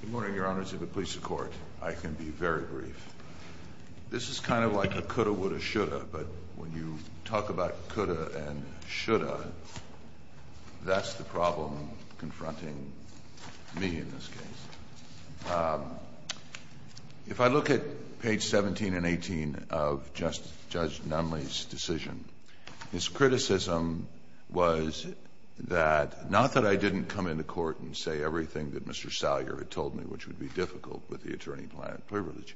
Good morning, Your Honours. If it pleases the Court, I can be very brief. This is kind of like a coulda, woulda, shoulda, but when you talk about coulda and shoulda, that's the problem confronting me in this case. If I look at page 17 and 18 of Judge Nunley's decision, his criticism was that not that I didn't come into court and say everything that Mr. Salyer had told me, which would be difficult with the attorney-at-large privilege,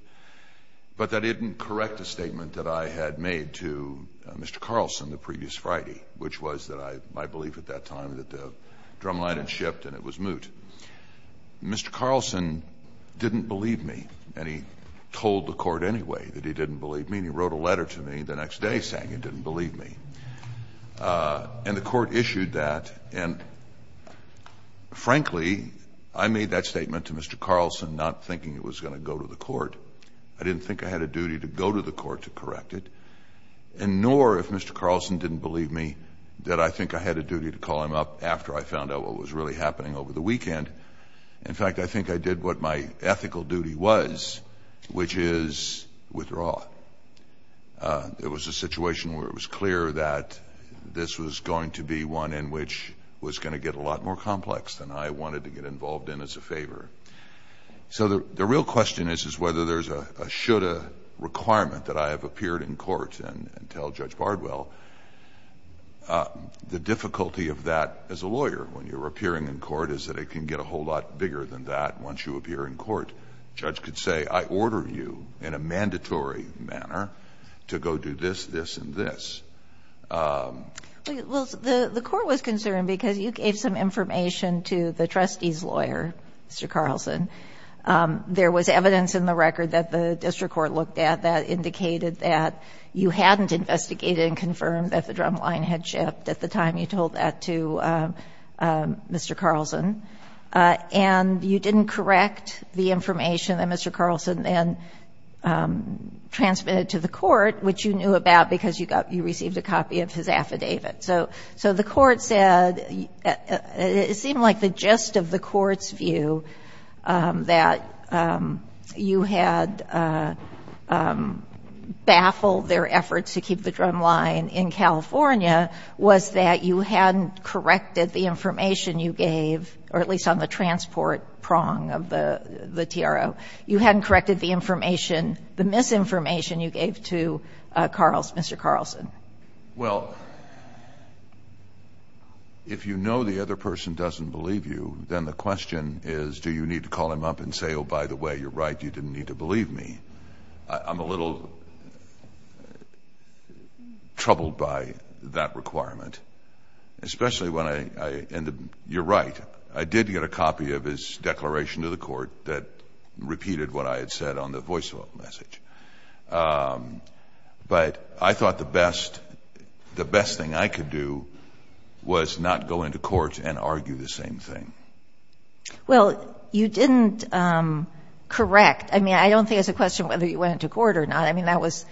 but that it didn't correct a statement that I had made to Mr. Carlson the previous Friday, which was that I — my didn't believe me, and he told the Court anyway that he didn't believe me, and he wrote a letter to me the next day saying he didn't believe me. And the Court issued that, and, frankly, I made that statement to Mr. Carlson not thinking it was going to go to the Court. I didn't think I had a duty to go to the Court to correct it, and nor, if Mr. Carlson didn't believe me, did I think I had a duty to call him up after I found out what was really happening over the weekend. In fact, I think I did what my ethical duty was, which is withdraw. There was a situation where it was clear that this was going to be one in which was going to get a lot more complex than I wanted to get involved in as a favor. So the real question is, is whether there's a shoulda requirement that I have appeared in court and tell Judge Bardwell. The difficulty of that as a lawyer, when you're appearing in court, is that it can get a whole lot bigger than that once you appear in court. A judge could say, I order you in a mandatory manner to go do this, this, and this. Well, the Court was concerned because you gave some information to the trustee's lawyer, Mr. Carlson. There was evidence in the record that the district court looked at that indicated that you hadn't investigated and confirmed that the drumline had shipped at the time you told that to Mr. Carlson. And you didn't correct the information that Mr. Carlson then transmitted to the Court, which you knew about because you received a copy of his affidavit. So the Court said, it seemed like the gist of the Court's view that you had baffled their efforts to keep the drumline in California was that you hadn't corrected the information you gave, or at least on the transport prong of the TRO. You hadn't corrected the information, the misinformation you gave to Carlson, Mr. Carlson. Well, if you know the other person doesn't believe you, then the question is, do you need to call him up and say, oh, by the way, you're right, you didn't need to believe me. I'm a little troubled by that requirement, especially when I end up, you're right, I did get a copy of his declaration to the Court that repeated what I had said on the voice message. But I thought the best thing I could do was not go into court and argue the same thing. Well, you didn't correct. I mean, I don't think it's a question whether you went into court or not. I mean, that was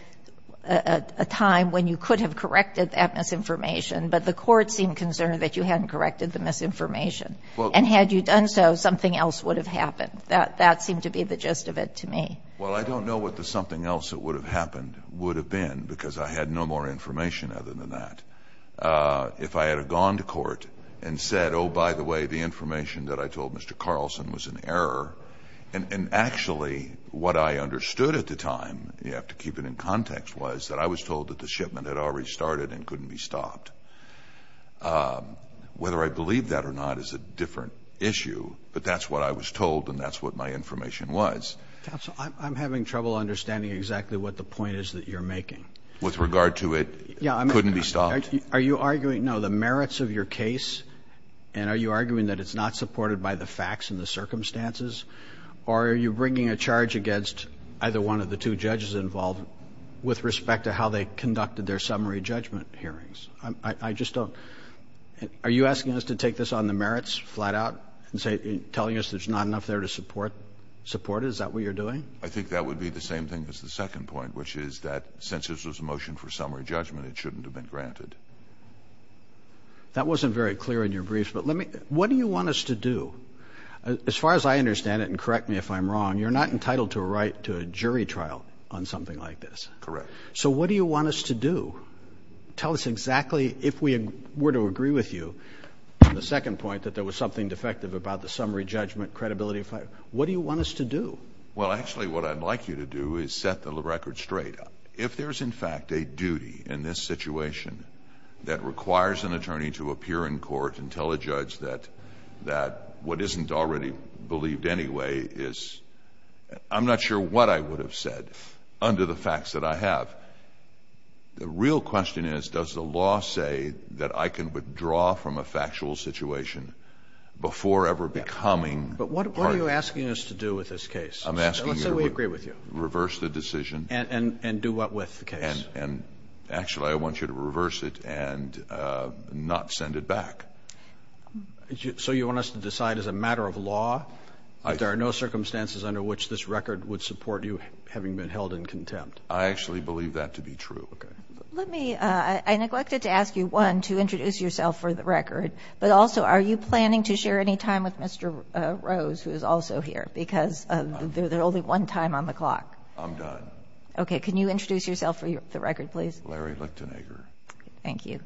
a time when you could have corrected that misinformation, but the Court seemed concerned that you hadn't corrected the misinformation. And had you done so, something else would have happened. That seemed to be the gist of it to me. Well, I don't know what the something else that would have happened would have been, because I had no more information other than that. If I had gone to court and said, oh, by the way, the information that I told Mr. Carlson was an error, and actually what I understood at the time, you have to keep it in context, was that I was told that the shipment had already started and couldn't be stopped. Whether I believe that or not is a different issue, but that's what I was told and that's what my information was. Counsel, I'm having trouble understanding exactly what the point is that you're making. With regard to it couldn't be stopped. Are you arguing, no, the merits of your case, and are you arguing that it's not supported by the facts and the circumstances, or are you bringing a charge against either one of the two judges involved with respect to how they conducted their summary judgment hearings? I just don't. Are you asking us to take this on the merits flat out and telling us there's not enough there to support it? Is that what you're doing? I think that would be the same thing as the second point, which is that since this was a motion for summary judgment, it shouldn't have been granted. That wasn't very clear in your briefs, but what do you want us to do? As far as I understand it, and correct me if I'm wrong, you're not entitled to a right to a jury trial on something like this. Correct. So what do you want us to do? Tell us exactly if we were to agree with you on the second point that there was something defective about the summary judgment credibility, what do you want us to do? Well, actually, what I'd like you to do is set the record straight. If there's, in fact, a duty in this situation that requires an attorney to appear in court and tell a judge that what isn't already believed anyway is — I'm not sure what I would have said under the facts that I have. The real question is, does the law say that I can withdraw from a factual situation before ever becoming part of it? But what are you asking us to do with this case? I'm asking you to reverse the decision. And do what with the case? And actually, I want you to reverse it and not send it back. So you want us to decide as a matter of law that there are no circumstances under which this record would support you having been held in contempt? I actually believe that to be true. Okay. Let me — I neglected to ask you, one, to introduce yourself for the record, but also, are you planning to share any time with Mr. Rose, who is also here, because there's only one time on the clock? I'm done. Okay. Can you introduce yourself for the record, please? Larry Lichtenegger. Thank you.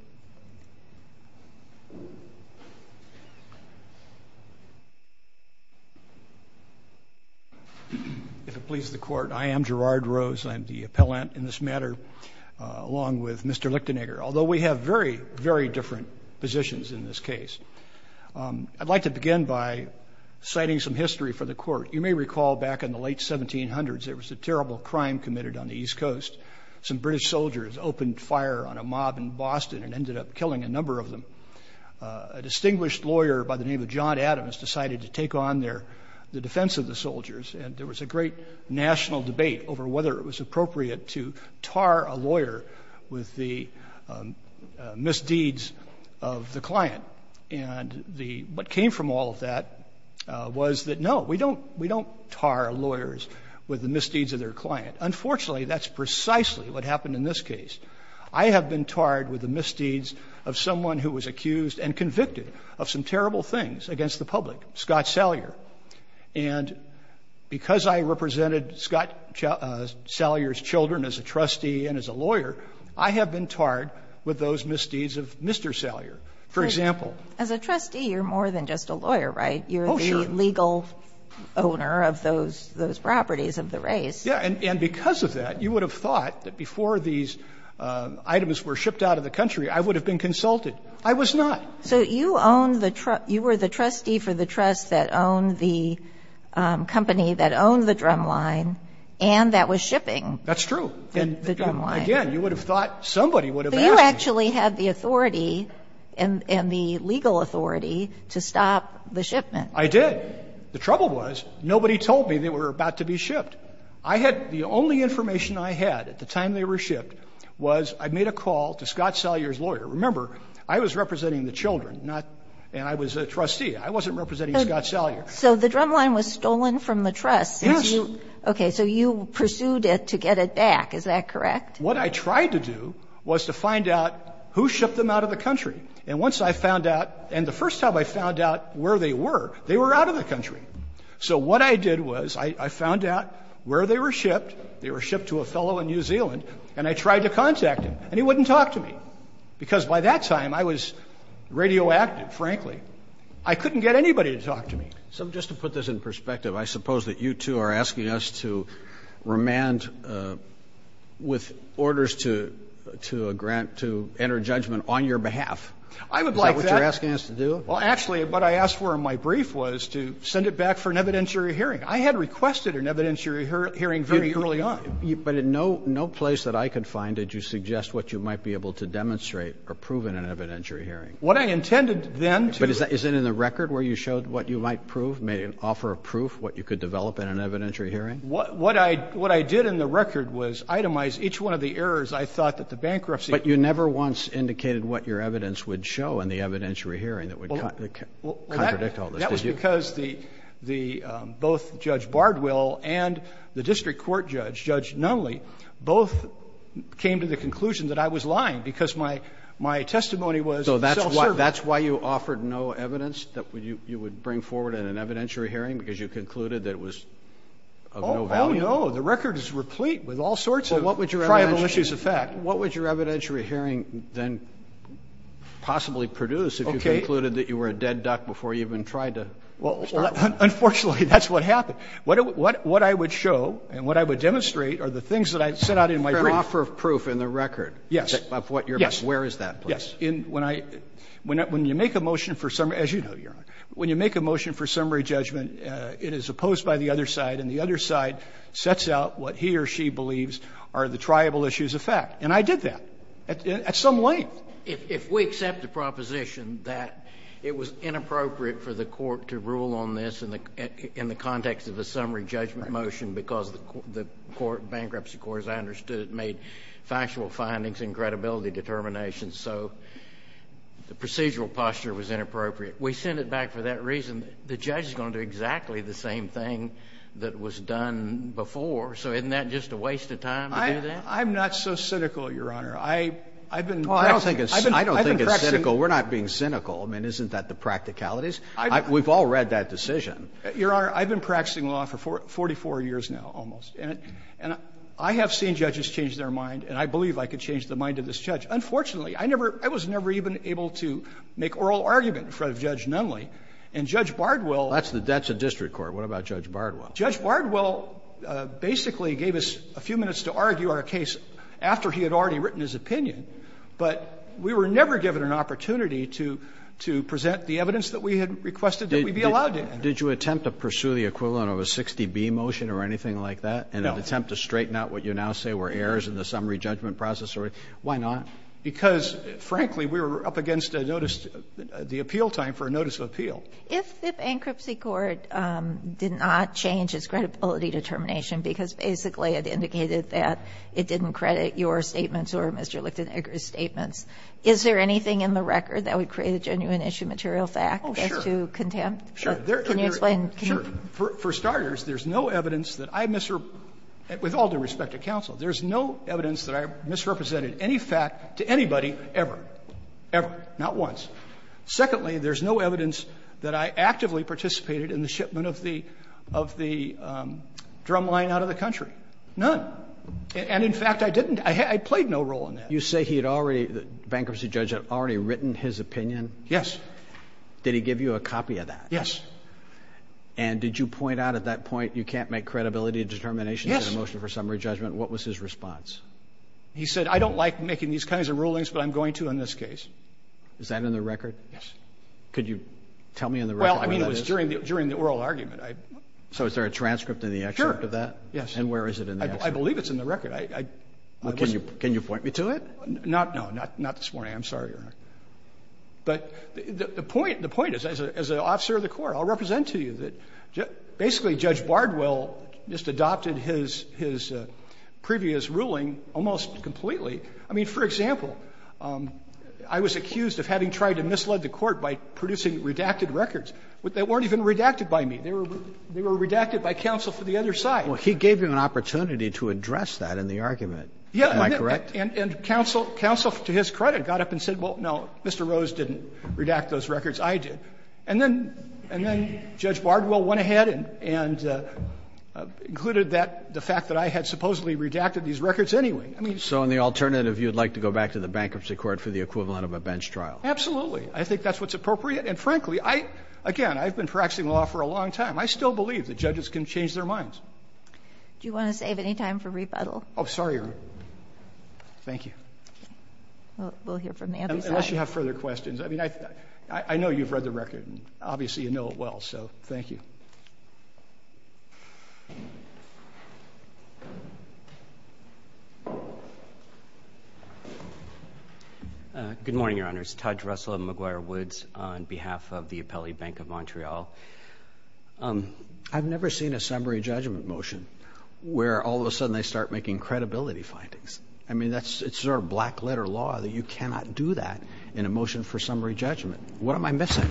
If it pleases the Court, I am Gerard Rose. I am the appellant in this matter, along with Mr. Lichtenegger. Although we have very, very different positions in this case. I'd like to begin by citing some history for the Court. You may recall back in the late 1700s, there was a terrible crime committed on the East Coast. Some British soldiers opened fire on a mob in Boston and ended up killing a number of them. A distinguished lawyer by the name of John Adams decided to take on the defense of the soldiers, and there was a great national debate over whether it was appropriate to tar a lawyer with the misdeeds of the client. And the — what came from all of that was that, no, we don't — we don't tar lawyers with the misdeeds of their client. Unfortunately, that's precisely what happened in this case. I have been tarred with the misdeeds of someone who was accused and convicted of some terrible things against the public, Scott Salyer. And because I represented Scott Salyer's children as a trustee and as a lawyer, I have been tarred with those misdeeds of Mr. Salyer. For example — As a trustee, you're more than just a lawyer, right? Oh, sure. You're the legal owner of those properties of the race. Yeah. And because of that, you would have thought that before these items were shipped out of the country, I would have been consulted. I was not. So you owned the — you were the trustee for the trust that owned the company that owned the drumline and that was shipping the drumline. That's true. Again, you would have thought somebody would have asked me. But you actually had the authority and the legal authority to stop the shipment. I did. The trouble was nobody told me they were about to be shipped. I had — the only information I had at the time they were shipped was I made a call to Scott Salyer's lawyer. Remember, I was representing the children, not — and I was a trustee. I wasn't representing Scott Salyer. So the drumline was stolen from the trust since you — Yes. Okay. So you pursued it to get it back. Is that correct? What I tried to do was to find out who shipped them out of the country. And once I found out — and the first time I found out where they were, they were out of the country. So what I did was I found out where they were shipped. They were shipped to a fellow in New Zealand. And I tried to contact him, and he wouldn't talk to me. Because by that time, I was radioactive, frankly. I couldn't get anybody to talk to me. So just to put this in perspective, I suppose that you, too, are asking us to remand with orders to a grant to enter judgment on your behalf. I would like that. Is that what you're asking us to do? Well, actually, what I asked for in my brief was to send it back for an evidentiary hearing. I had requested an evidentiary hearing very early on. But in no place that I could find did you suggest what you might be able to demonstrate or prove in an evidentiary hearing. What I intended then to — But is it in the record where you showed what you might prove, made an offer of proof, what you could develop in an evidentiary hearing? What I did in the record was itemize each one of the errors. I thought that the bankruptcy — But you never once indicated what your evidence would show in the evidentiary hearing that would contradict all this, did you? No, because the — both Judge Bardwell and the district court judge, Judge Nunley, both came to the conclusion that I was lying because my testimony was self-serving. So that's why you offered no evidence that you would bring forward in an evidentiary hearing, because you concluded that it was of no value? Oh, no. The record is replete with all sorts of — Well, what would your evidentiary —— tribal issues of fact. What would your evidentiary hearing then possibly produce if you concluded that you were a tribal issue of fact? Well, unfortunately, that's what happened. What I would show and what I would demonstrate are the things that I set out in my brief. An offer of proof in the record? Yes. Of what you're — Yes. Where is that, please? Yes. When I — when you make a motion for summary — as you know, Your Honor — when you make a motion for summary judgment, it is opposed by the other side, and the other side sets out what he or she believes are the tribal issues of fact. And I did that at some length. Well, if we accept the proposition that it was inappropriate for the court to rule on this in the context of a summary judgment motion because the court — bankruptcy court, as I understood it, made factual findings and credibility determinations, so the procedural posture was inappropriate. We send it back for that reason. The judge is going to do exactly the same thing that was done before, so isn't that just a waste of time to do that? I'm not so cynical, Your Honor. I've been — Well, I don't think it's — I don't think it's cynical. We're not being cynical. I mean, isn't that the practicalities? We've all read that decision. Your Honor, I've been practicing law for 44 years now almost, and I have seen judges change their mind, and I believe I could change the mind of this judge. Unfortunately, I never — I was never even able to make oral argument in front of Judge Nunley. And Judge Bardwell — That's the district court. What about Judge Bardwell? Judge Bardwell basically gave us a few minutes to argue our case after he had already written his opinion, but we were never given an opportunity to present the evidence that we had requested that we be allowed to enter. Did you attempt to pursue the equivalent of a 60B motion or anything like that? No. An attempt to straighten out what you now say were errors in the summary judgment process? Why not? Because, frankly, we were up against a notice — the appeal time for a notice of appeal. If the bankruptcy court did not change its credibility determination because basically it indicated that it didn't credit your statements or Mr. Lichtenegger's statements, is there anything in the record that would create a genuine issue material fact as to contempt? Oh, sure. Sure. Can you explain? Sure. For starters, there's no evidence that I — with all due respect to counsel, there's no evidence that I misrepresented any fact to anybody ever. Ever. Not once. Secondly, there's no evidence that I actively participated in the shipment of the drumline out of the country. None. And, in fact, I didn't. I played no role in that. You say he had already — the bankruptcy judge had already written his opinion? Yes. Did he give you a copy of that? Yes. And did you point out at that point you can't make credibility determinations in a motion for summary judgment? Yes. What was his response? He said, I don't like making these kinds of rulings, but I'm going to in this case. Is that in the record? Yes. Could you tell me in the record what that is? Well, I mean, it was during the oral argument. So is there a transcript in the excerpt of that? Sure. Yes. And where is it in the excerpt? I believe it's in the record. Can you point me to it? No. Not this morning. I'm sorry, Your Honor. But the point is, as an officer of the court, I'll represent to you that basically Judge Bardwell just adopted his previous ruling almost completely. I mean, for example, I was accused of having tried to mislead the court by producing redacted records that weren't even redacted by me. They were redacted by counsel for the other side. Well, he gave you an opportunity to address that in the argument. Yeah. Am I correct? And counsel, to his credit, got up and said, well, no, Mr. Rose didn't redact those records, I did. And then Judge Bardwell went ahead and included that, the fact that I had supposedly redacted these records anyway. I mean, so. So on the alternative, you would like to go back to the bankruptcy court for the equivalent of a bench trial? Absolutely. I think that's what's appropriate. And frankly, I, again, I've been practicing law for a long time. I still believe that judges can change their minds. Do you want to save any time for rebuttal? Oh, sorry. Thank you. We'll hear from the other side. Unless you have further questions. I mean, I know you've read the record. Obviously, you know it well. So thank you. Good morning, Your Honors. My name is Todd Russell of McGuire Woods on behalf of the Appellee Bank of Montreal. I've never seen a summary judgment motion where all of a sudden they start making credibility findings. I mean, that's sort of black letter law that you cannot do that in a motion for summary judgment. What am I missing?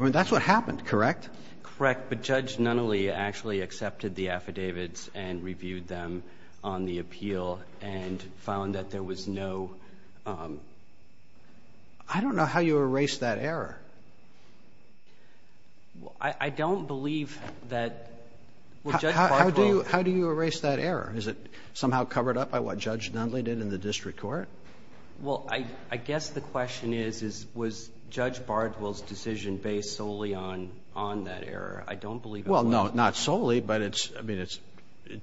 I mean, that's what happened, correct? Correct. But Judge Nunnally actually accepted the affidavits and reviewed them on the appeal and found that there was no... I don't know how you erased that error. I don't believe that Judge Bardwell... How do you erase that error? Is it somehow covered up by what Judge Nunnally did in the district court? Well, I guess the question is, was Judge Bardwell's decision based solely on that error? I don't believe it was. Well, no, not solely, but it's, I mean, it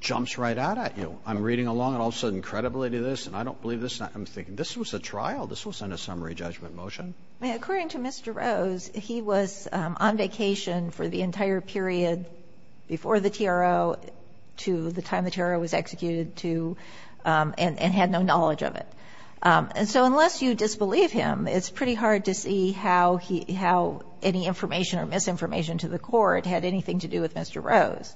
jumps right out at you. I'm reading along and all of a sudden credibility to this, and I don't believe this. I'm thinking, this was a trial. This wasn't a summary judgment motion. According to Mr. Rose, he was on vacation for the entire period before the TRO to the time the TRO was executed to and had no knowledge of it. And so unless you disbelieve him, it's pretty hard to see how any information or misinformation to the court had anything to do with Mr. Rose.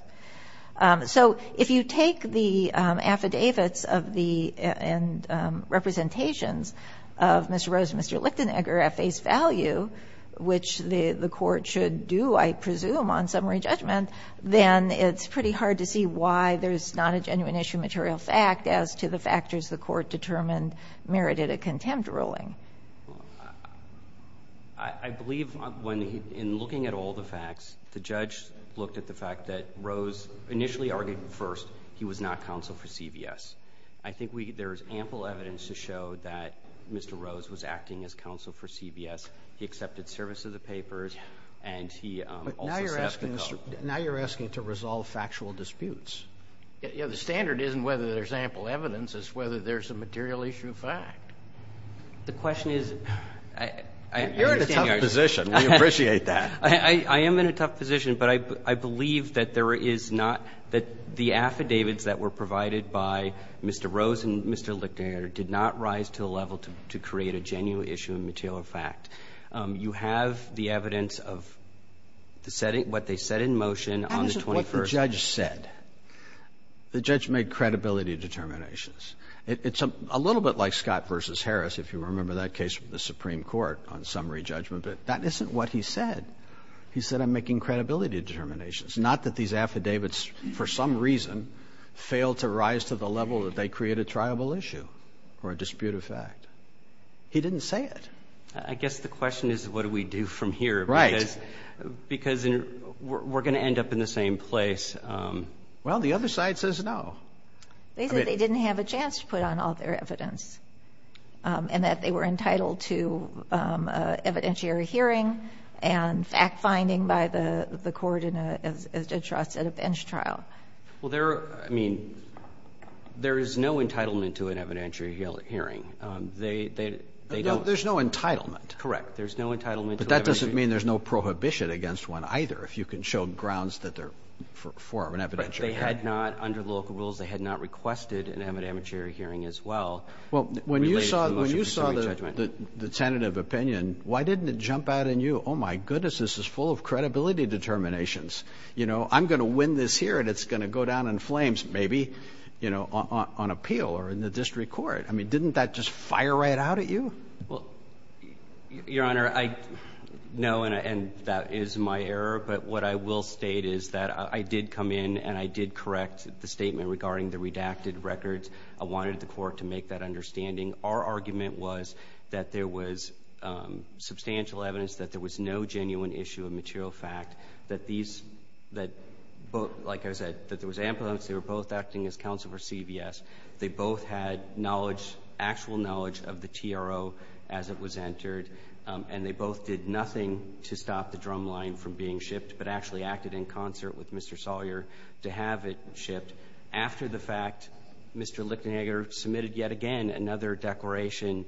So if you take the affidavits and representations of Mr. Rose and Mr. Lichtenegger at face value, which the court should do, I presume, on summary judgment, then it's pretty hard to see why there's not a genuine issue material fact as to the factors the court determined merited a contempt ruling. I believe in looking at all the facts, the judge looked at the fact that Rose initially argued first he was not counsel for CBS. I think there's ample evidence to show that Mr. Rose was acting as counsel for CBS. He accepted service of the papers, and he also sat at the court. But now you're asking to resolve factual disputes. Yeah, the standard isn't whether there's ample evidence. It's whether there's a material issue fact. The question is, I understand yours. You're in a tough position. We appreciate that. I am in a tough position, but I believe that there is not the affidavits that were provided by Mr. Rose and Mr. Lichtenegger did not rise to the level to create a genuine issue of material fact. You have the evidence of what they said in motion on the 21st. How is it what the judge said? The judge made credibility determinations. It's a little bit like Scott v. Harris, if you remember that case with the Supreme Court on summary judgment. But that isn't what he said. He said, I'm making credibility determinations, not that these affidavits, for some reason, fail to rise to the level that they create a triable issue or a disputed fact. He didn't say it. I guess the question is, what do we do from here? Right. Because we're going to end up in the same place. Well, the other side says no. They said they didn't have a chance to put on all their evidence and that they were entitled to an evidentiary hearing and fact-finding by the court in a trust at a bench trial. Well, there are, I mean, there is no entitlement to an evidentiary hearing. They don't. There's no entitlement. Correct. There's no entitlement to an evidentiary hearing. But that doesn't mean there's no prohibition against one either, if you can show grounds that they're for an evidentiary hearing. Well, they had not, under local rules, they had not requested an evidentiary hearing as well. Well, when you saw the tentative opinion, why didn't it jump out at you? Oh, my goodness, this is full of credibility determinations. You know, I'm going to win this here and it's going to go down in flames, maybe, you know, on appeal or in the district court. I mean, didn't that just fire right out at you? Well, Your Honor, no, and that is my error. But what I will state is that I did come in and I did correct the statement regarding the redacted records. I wanted the court to make that understanding. Our argument was that there was substantial evidence, that there was no genuine issue of material fact, that these, that both, like I said, that there was ambulance, they were both acting as counsel for CVS. They both had knowledge, actual knowledge of the TRO as it was entered, and they both did nothing to stop the drumline from being shipped but actually acted in concert with Mr. Sawyer to have it shipped. After the fact, Mr. Lichtenegger submitted yet again another declaration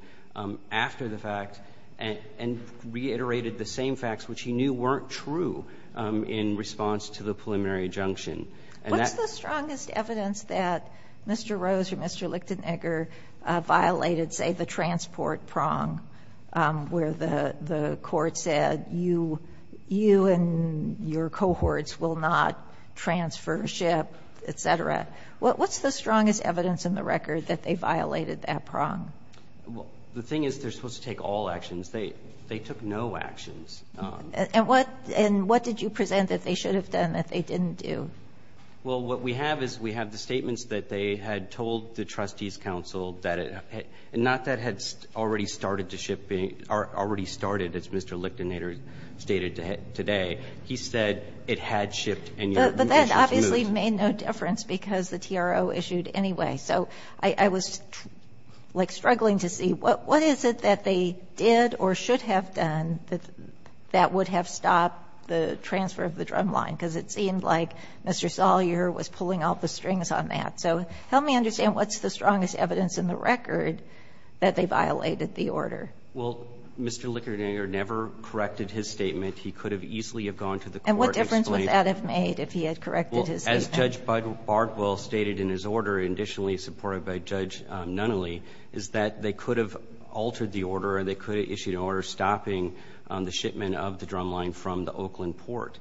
after the fact and reiterated the same facts, which he knew weren't true in response to the preliminary injunction. What's the strongest evidence that Mr. Rose or Mr. Lichtenegger violated, say, the transport prong where the court said, you and your cohorts will not transfer ship, et cetera? What's the strongest evidence in the record that they violated that prong? The thing is they're supposed to take all actions. They took no actions. And what did you present that they should have done that they didn't do? Well, what we have is we have the statements that they had told the trustees' counsel that it had already started as Mr. Lichtenegger stated today. He said it had shipped and your motions moved. But that obviously made no difference because the TRO issued anyway. So I was, like, struggling to see what is it that they did or should have done that would have stopped the transfer of the drumline because it seemed like Mr. Salyer was pulling all the strings on that. So help me understand what's the strongest evidence in the record that they violated the order. Well, Mr. Lichtenegger never corrected his statement. He could have easily have gone to the court and explained it. And what difference would that have made if he had corrected his statement? Well, as Judge Bardwell stated in his order, additionally supported by Judge Nunnally, is that they could have altered the order or they could have issued an order stopping the shipment of the drumline from the Oakland port.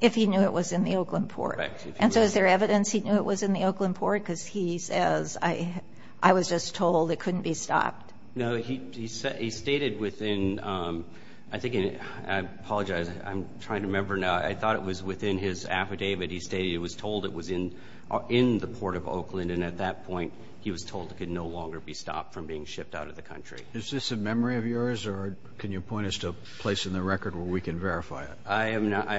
If he knew it was in the Oakland port. And so is there evidence he knew it was in the Oakland port? Because he says, I was just told it couldn't be stopped. No, he stated within, I think, I apologize, I'm trying to remember now. I thought it was within his affidavit. He stated he was told it was in the port of Oakland, and at that point he was told it could no longer be stopped from being shipped out of the country. Is this a memory of yours, or can you point us to a place in the record where we can verify it? I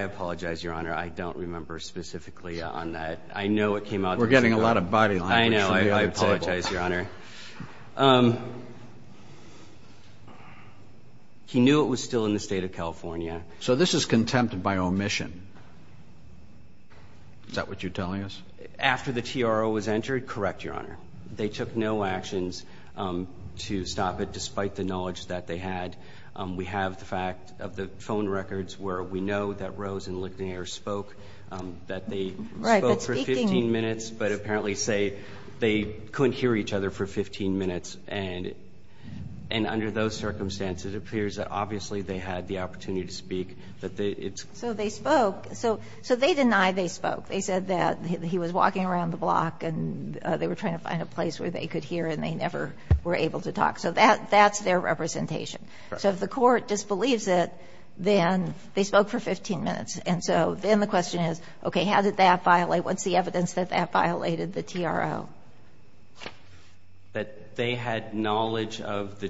apologize, Your Honor. I don't remember specifically on that. I know it came out. We're getting a lot of body language. I know. I apologize, Your Honor. He knew it was still in the state of California. So this is contempt by omission. Is that what you're telling us? After the TRO was entered, correct, Your Honor. They took no actions to stop it, despite the knowledge that they had. We have the fact of the phone records where we know that Rose and Ligonier spoke, that they spoke for 15 minutes. But apparently they couldn't hear each other for 15 minutes. And under those circumstances, it appears that obviously they had the opportunity to speak. So they spoke. So they denied they spoke. They said that he was walking around the block and they were trying to find a place where they could hear and they never were able to talk. So that's their representation. So if the court disbelieves it, then they spoke for 15 minutes. And so then the question is, okay, how did that violate? What's the evidence that that violated the TRO? That they had knowledge of the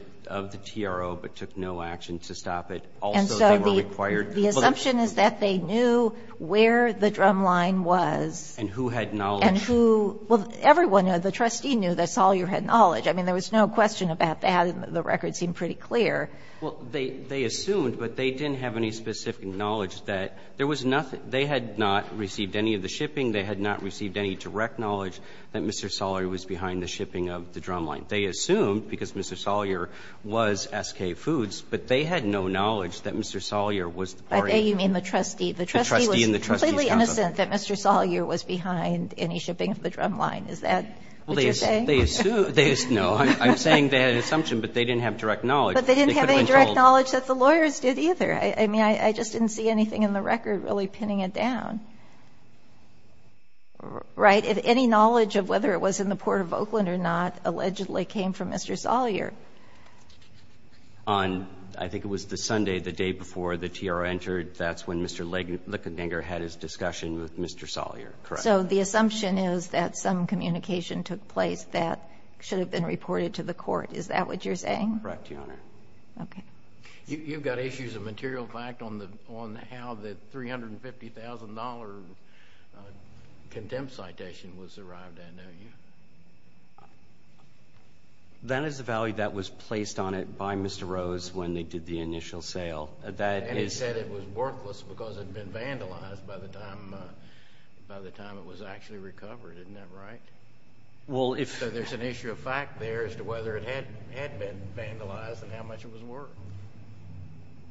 TRO but took no action to stop it. And so the assumption is that they knew where the drumline was. And who had knowledge. And who – well, everyone, the trustee knew that Salyer had knowledge. I mean, there was no question about that, and the record seemed pretty clear. Well, they assumed, but they didn't have any specific knowledge that there was nothing – they had not received any of the shipping. They had not received any direct knowledge that Mr. Salyer was behind the shipping of the drumline. They assumed, because Mr. Salyer was S.K. Foods, but they had no knowledge that Mr. Salyer was the party. By they, you mean the trustee. The trustee was completely innocent that Mr. Salyer was behind any shipping of the drumline. Is that what you're saying? Well, they assumed – no. I'm saying they had an assumption, but they didn't have direct knowledge. But they didn't have any direct knowledge that the lawyers did either. I mean, I just didn't see anything in the record really pinning it down. Right? But any knowledge of whether it was in the Port of Oakland or not allegedly came from Mr. Salyer. I think it was the Sunday, the day before the T.R. entered. That's when Mr. Lickeninger had his discussion with Mr. Salyer. Correct. So the assumption is that some communication took place that should have been reported to the court. Is that what you're saying? Correct, Your Honor. Okay. You've got issues of material fact on how the $350,000 contempt citation was arrived at, don't you? That is the value that was placed on it by Mr. Rose when they did the initial sale. And he said it was worthless because it had been vandalized by the time it was actually recovered. Isn't that right? Well, if – So there's an issue of fact there as to whether it had been vandalized and how much it was worth.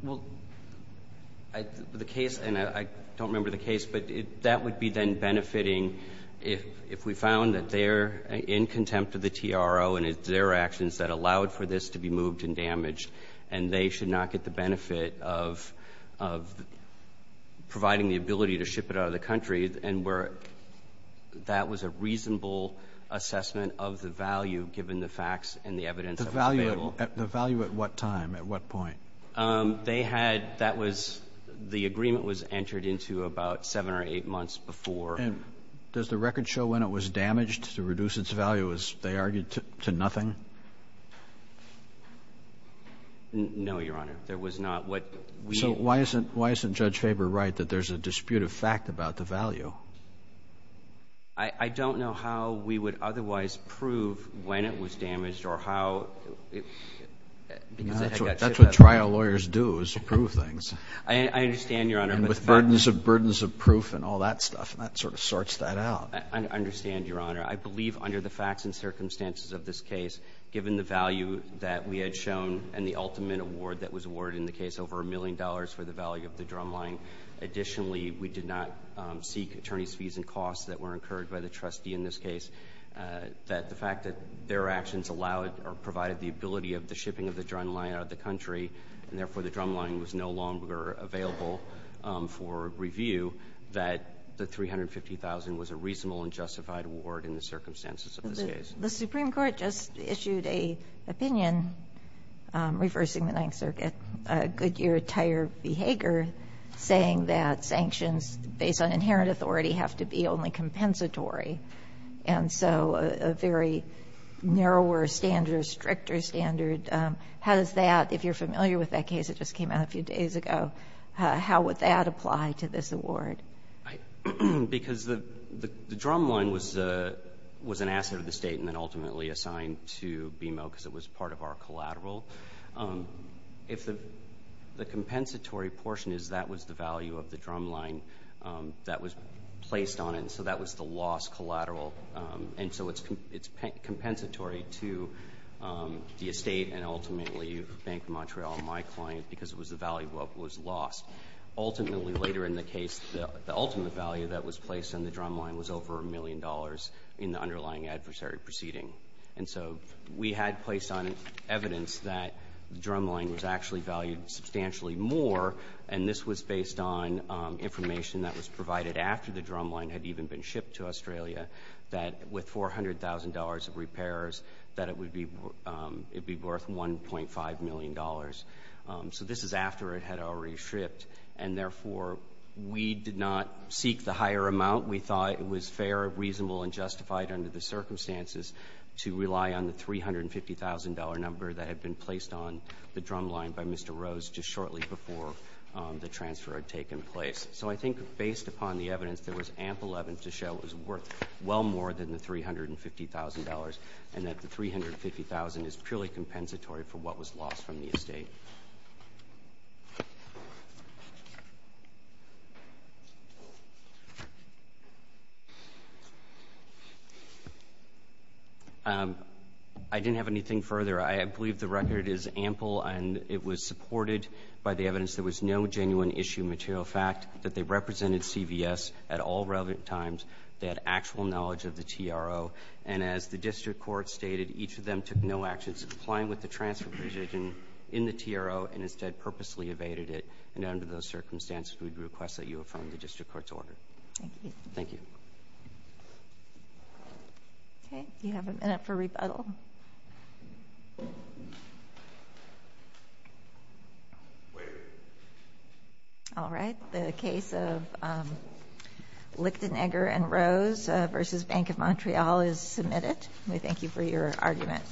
Well, the case – and I don't remember the case, but that would be then benefiting if we found that they're in contempt of the T.R.O. and it's their actions that allowed for this to be moved and damaged and they should not get the benefit of providing the ability to ship it out of the country and where that was a reasonable assessment of the value given the facts and the evidence that was available. The value at what time, at what point? They had – that was – the agreement was entered into about seven or eight months before. And does the record show when it was damaged to reduce its value as they argued to nothing? No, Your Honor. There was not what we – So why isn't Judge Faber right that there's a dispute of fact about the value? I don't know how we would otherwise prove when it was damaged or how – That's what trial lawyers do is approve things. I understand, Your Honor. And with burdens of proof and all that stuff, that sort of sorts that out. I understand, Your Honor. I believe under the facts and circumstances of this case, given the value that we had shown and the ultimate award that was awarded in the case, over a million dollars for the value of the drumline. Additionally, we did not seek attorney's fees and costs that were incurred by the trustee in this case. That the fact that their actions allowed or provided the ability of the shipping of the drumline out of the country, and therefore the drumline was no longer available for review, that the $350,000 was a reasonable and justified award in the circumstances of this case. The Supreme Court just issued an opinion reversing the Ninth Circuit. A Goodyear-Tyer-Behager saying that sanctions based on inherent authority have to be only compensatory. And so a very narrower standard, a stricter standard. How does that – if you're familiar with that case that just came out a few days ago, how would that apply to this award? Because the drumline was an asset of the State and then ultimately assigned to BMO because it was part of our collateral. If the compensatory portion is that was the value of the drumline that was placed on it, so that was the lost collateral. And so it's compensatory to the Estate and ultimately Bank of Montreal, my client, because it was the value that was lost. Ultimately, later in the case, the ultimate value that was placed on the drumline was over a million dollars in the underlying adversary proceeding. And so we had placed on it evidence that the drumline was actually valued substantially more and this was based on information that was provided after the drumline had even been shipped to Australia that with $400,000 of repairs that it would be worth $1.5 million. So this is after it had already shipped and therefore we did not seek the higher amount. We thought it was fair, reasonable, and justified under the circumstances to rely on the $350,000 number that had been placed on the drumline by Mr. Rose just shortly before the transfer had taken place. So I think based upon the evidence, there was ample evidence to show it was worth well more than the $350,000 and that the $350,000 is purely compensatory for what was lost from the Estate. I didn't have anything further. I believe the record is ample and it was supported by the evidence there was no genuine issue material fact that they represented CVS at all relevant times. They had actual knowledge of the TRO and as the district court stated, each of them took no actions in complying with the transfer decision in the TRO and instead purposely evaded it. And under those circumstances, we would request that you affirm the district court's order. Thank you. Thank you. Thank you. Okay. Do you have a minute for rebuttal? All right. The case of Lichtenegger and Rose v. Bank of Montreal is submitted. We thank you for your argument.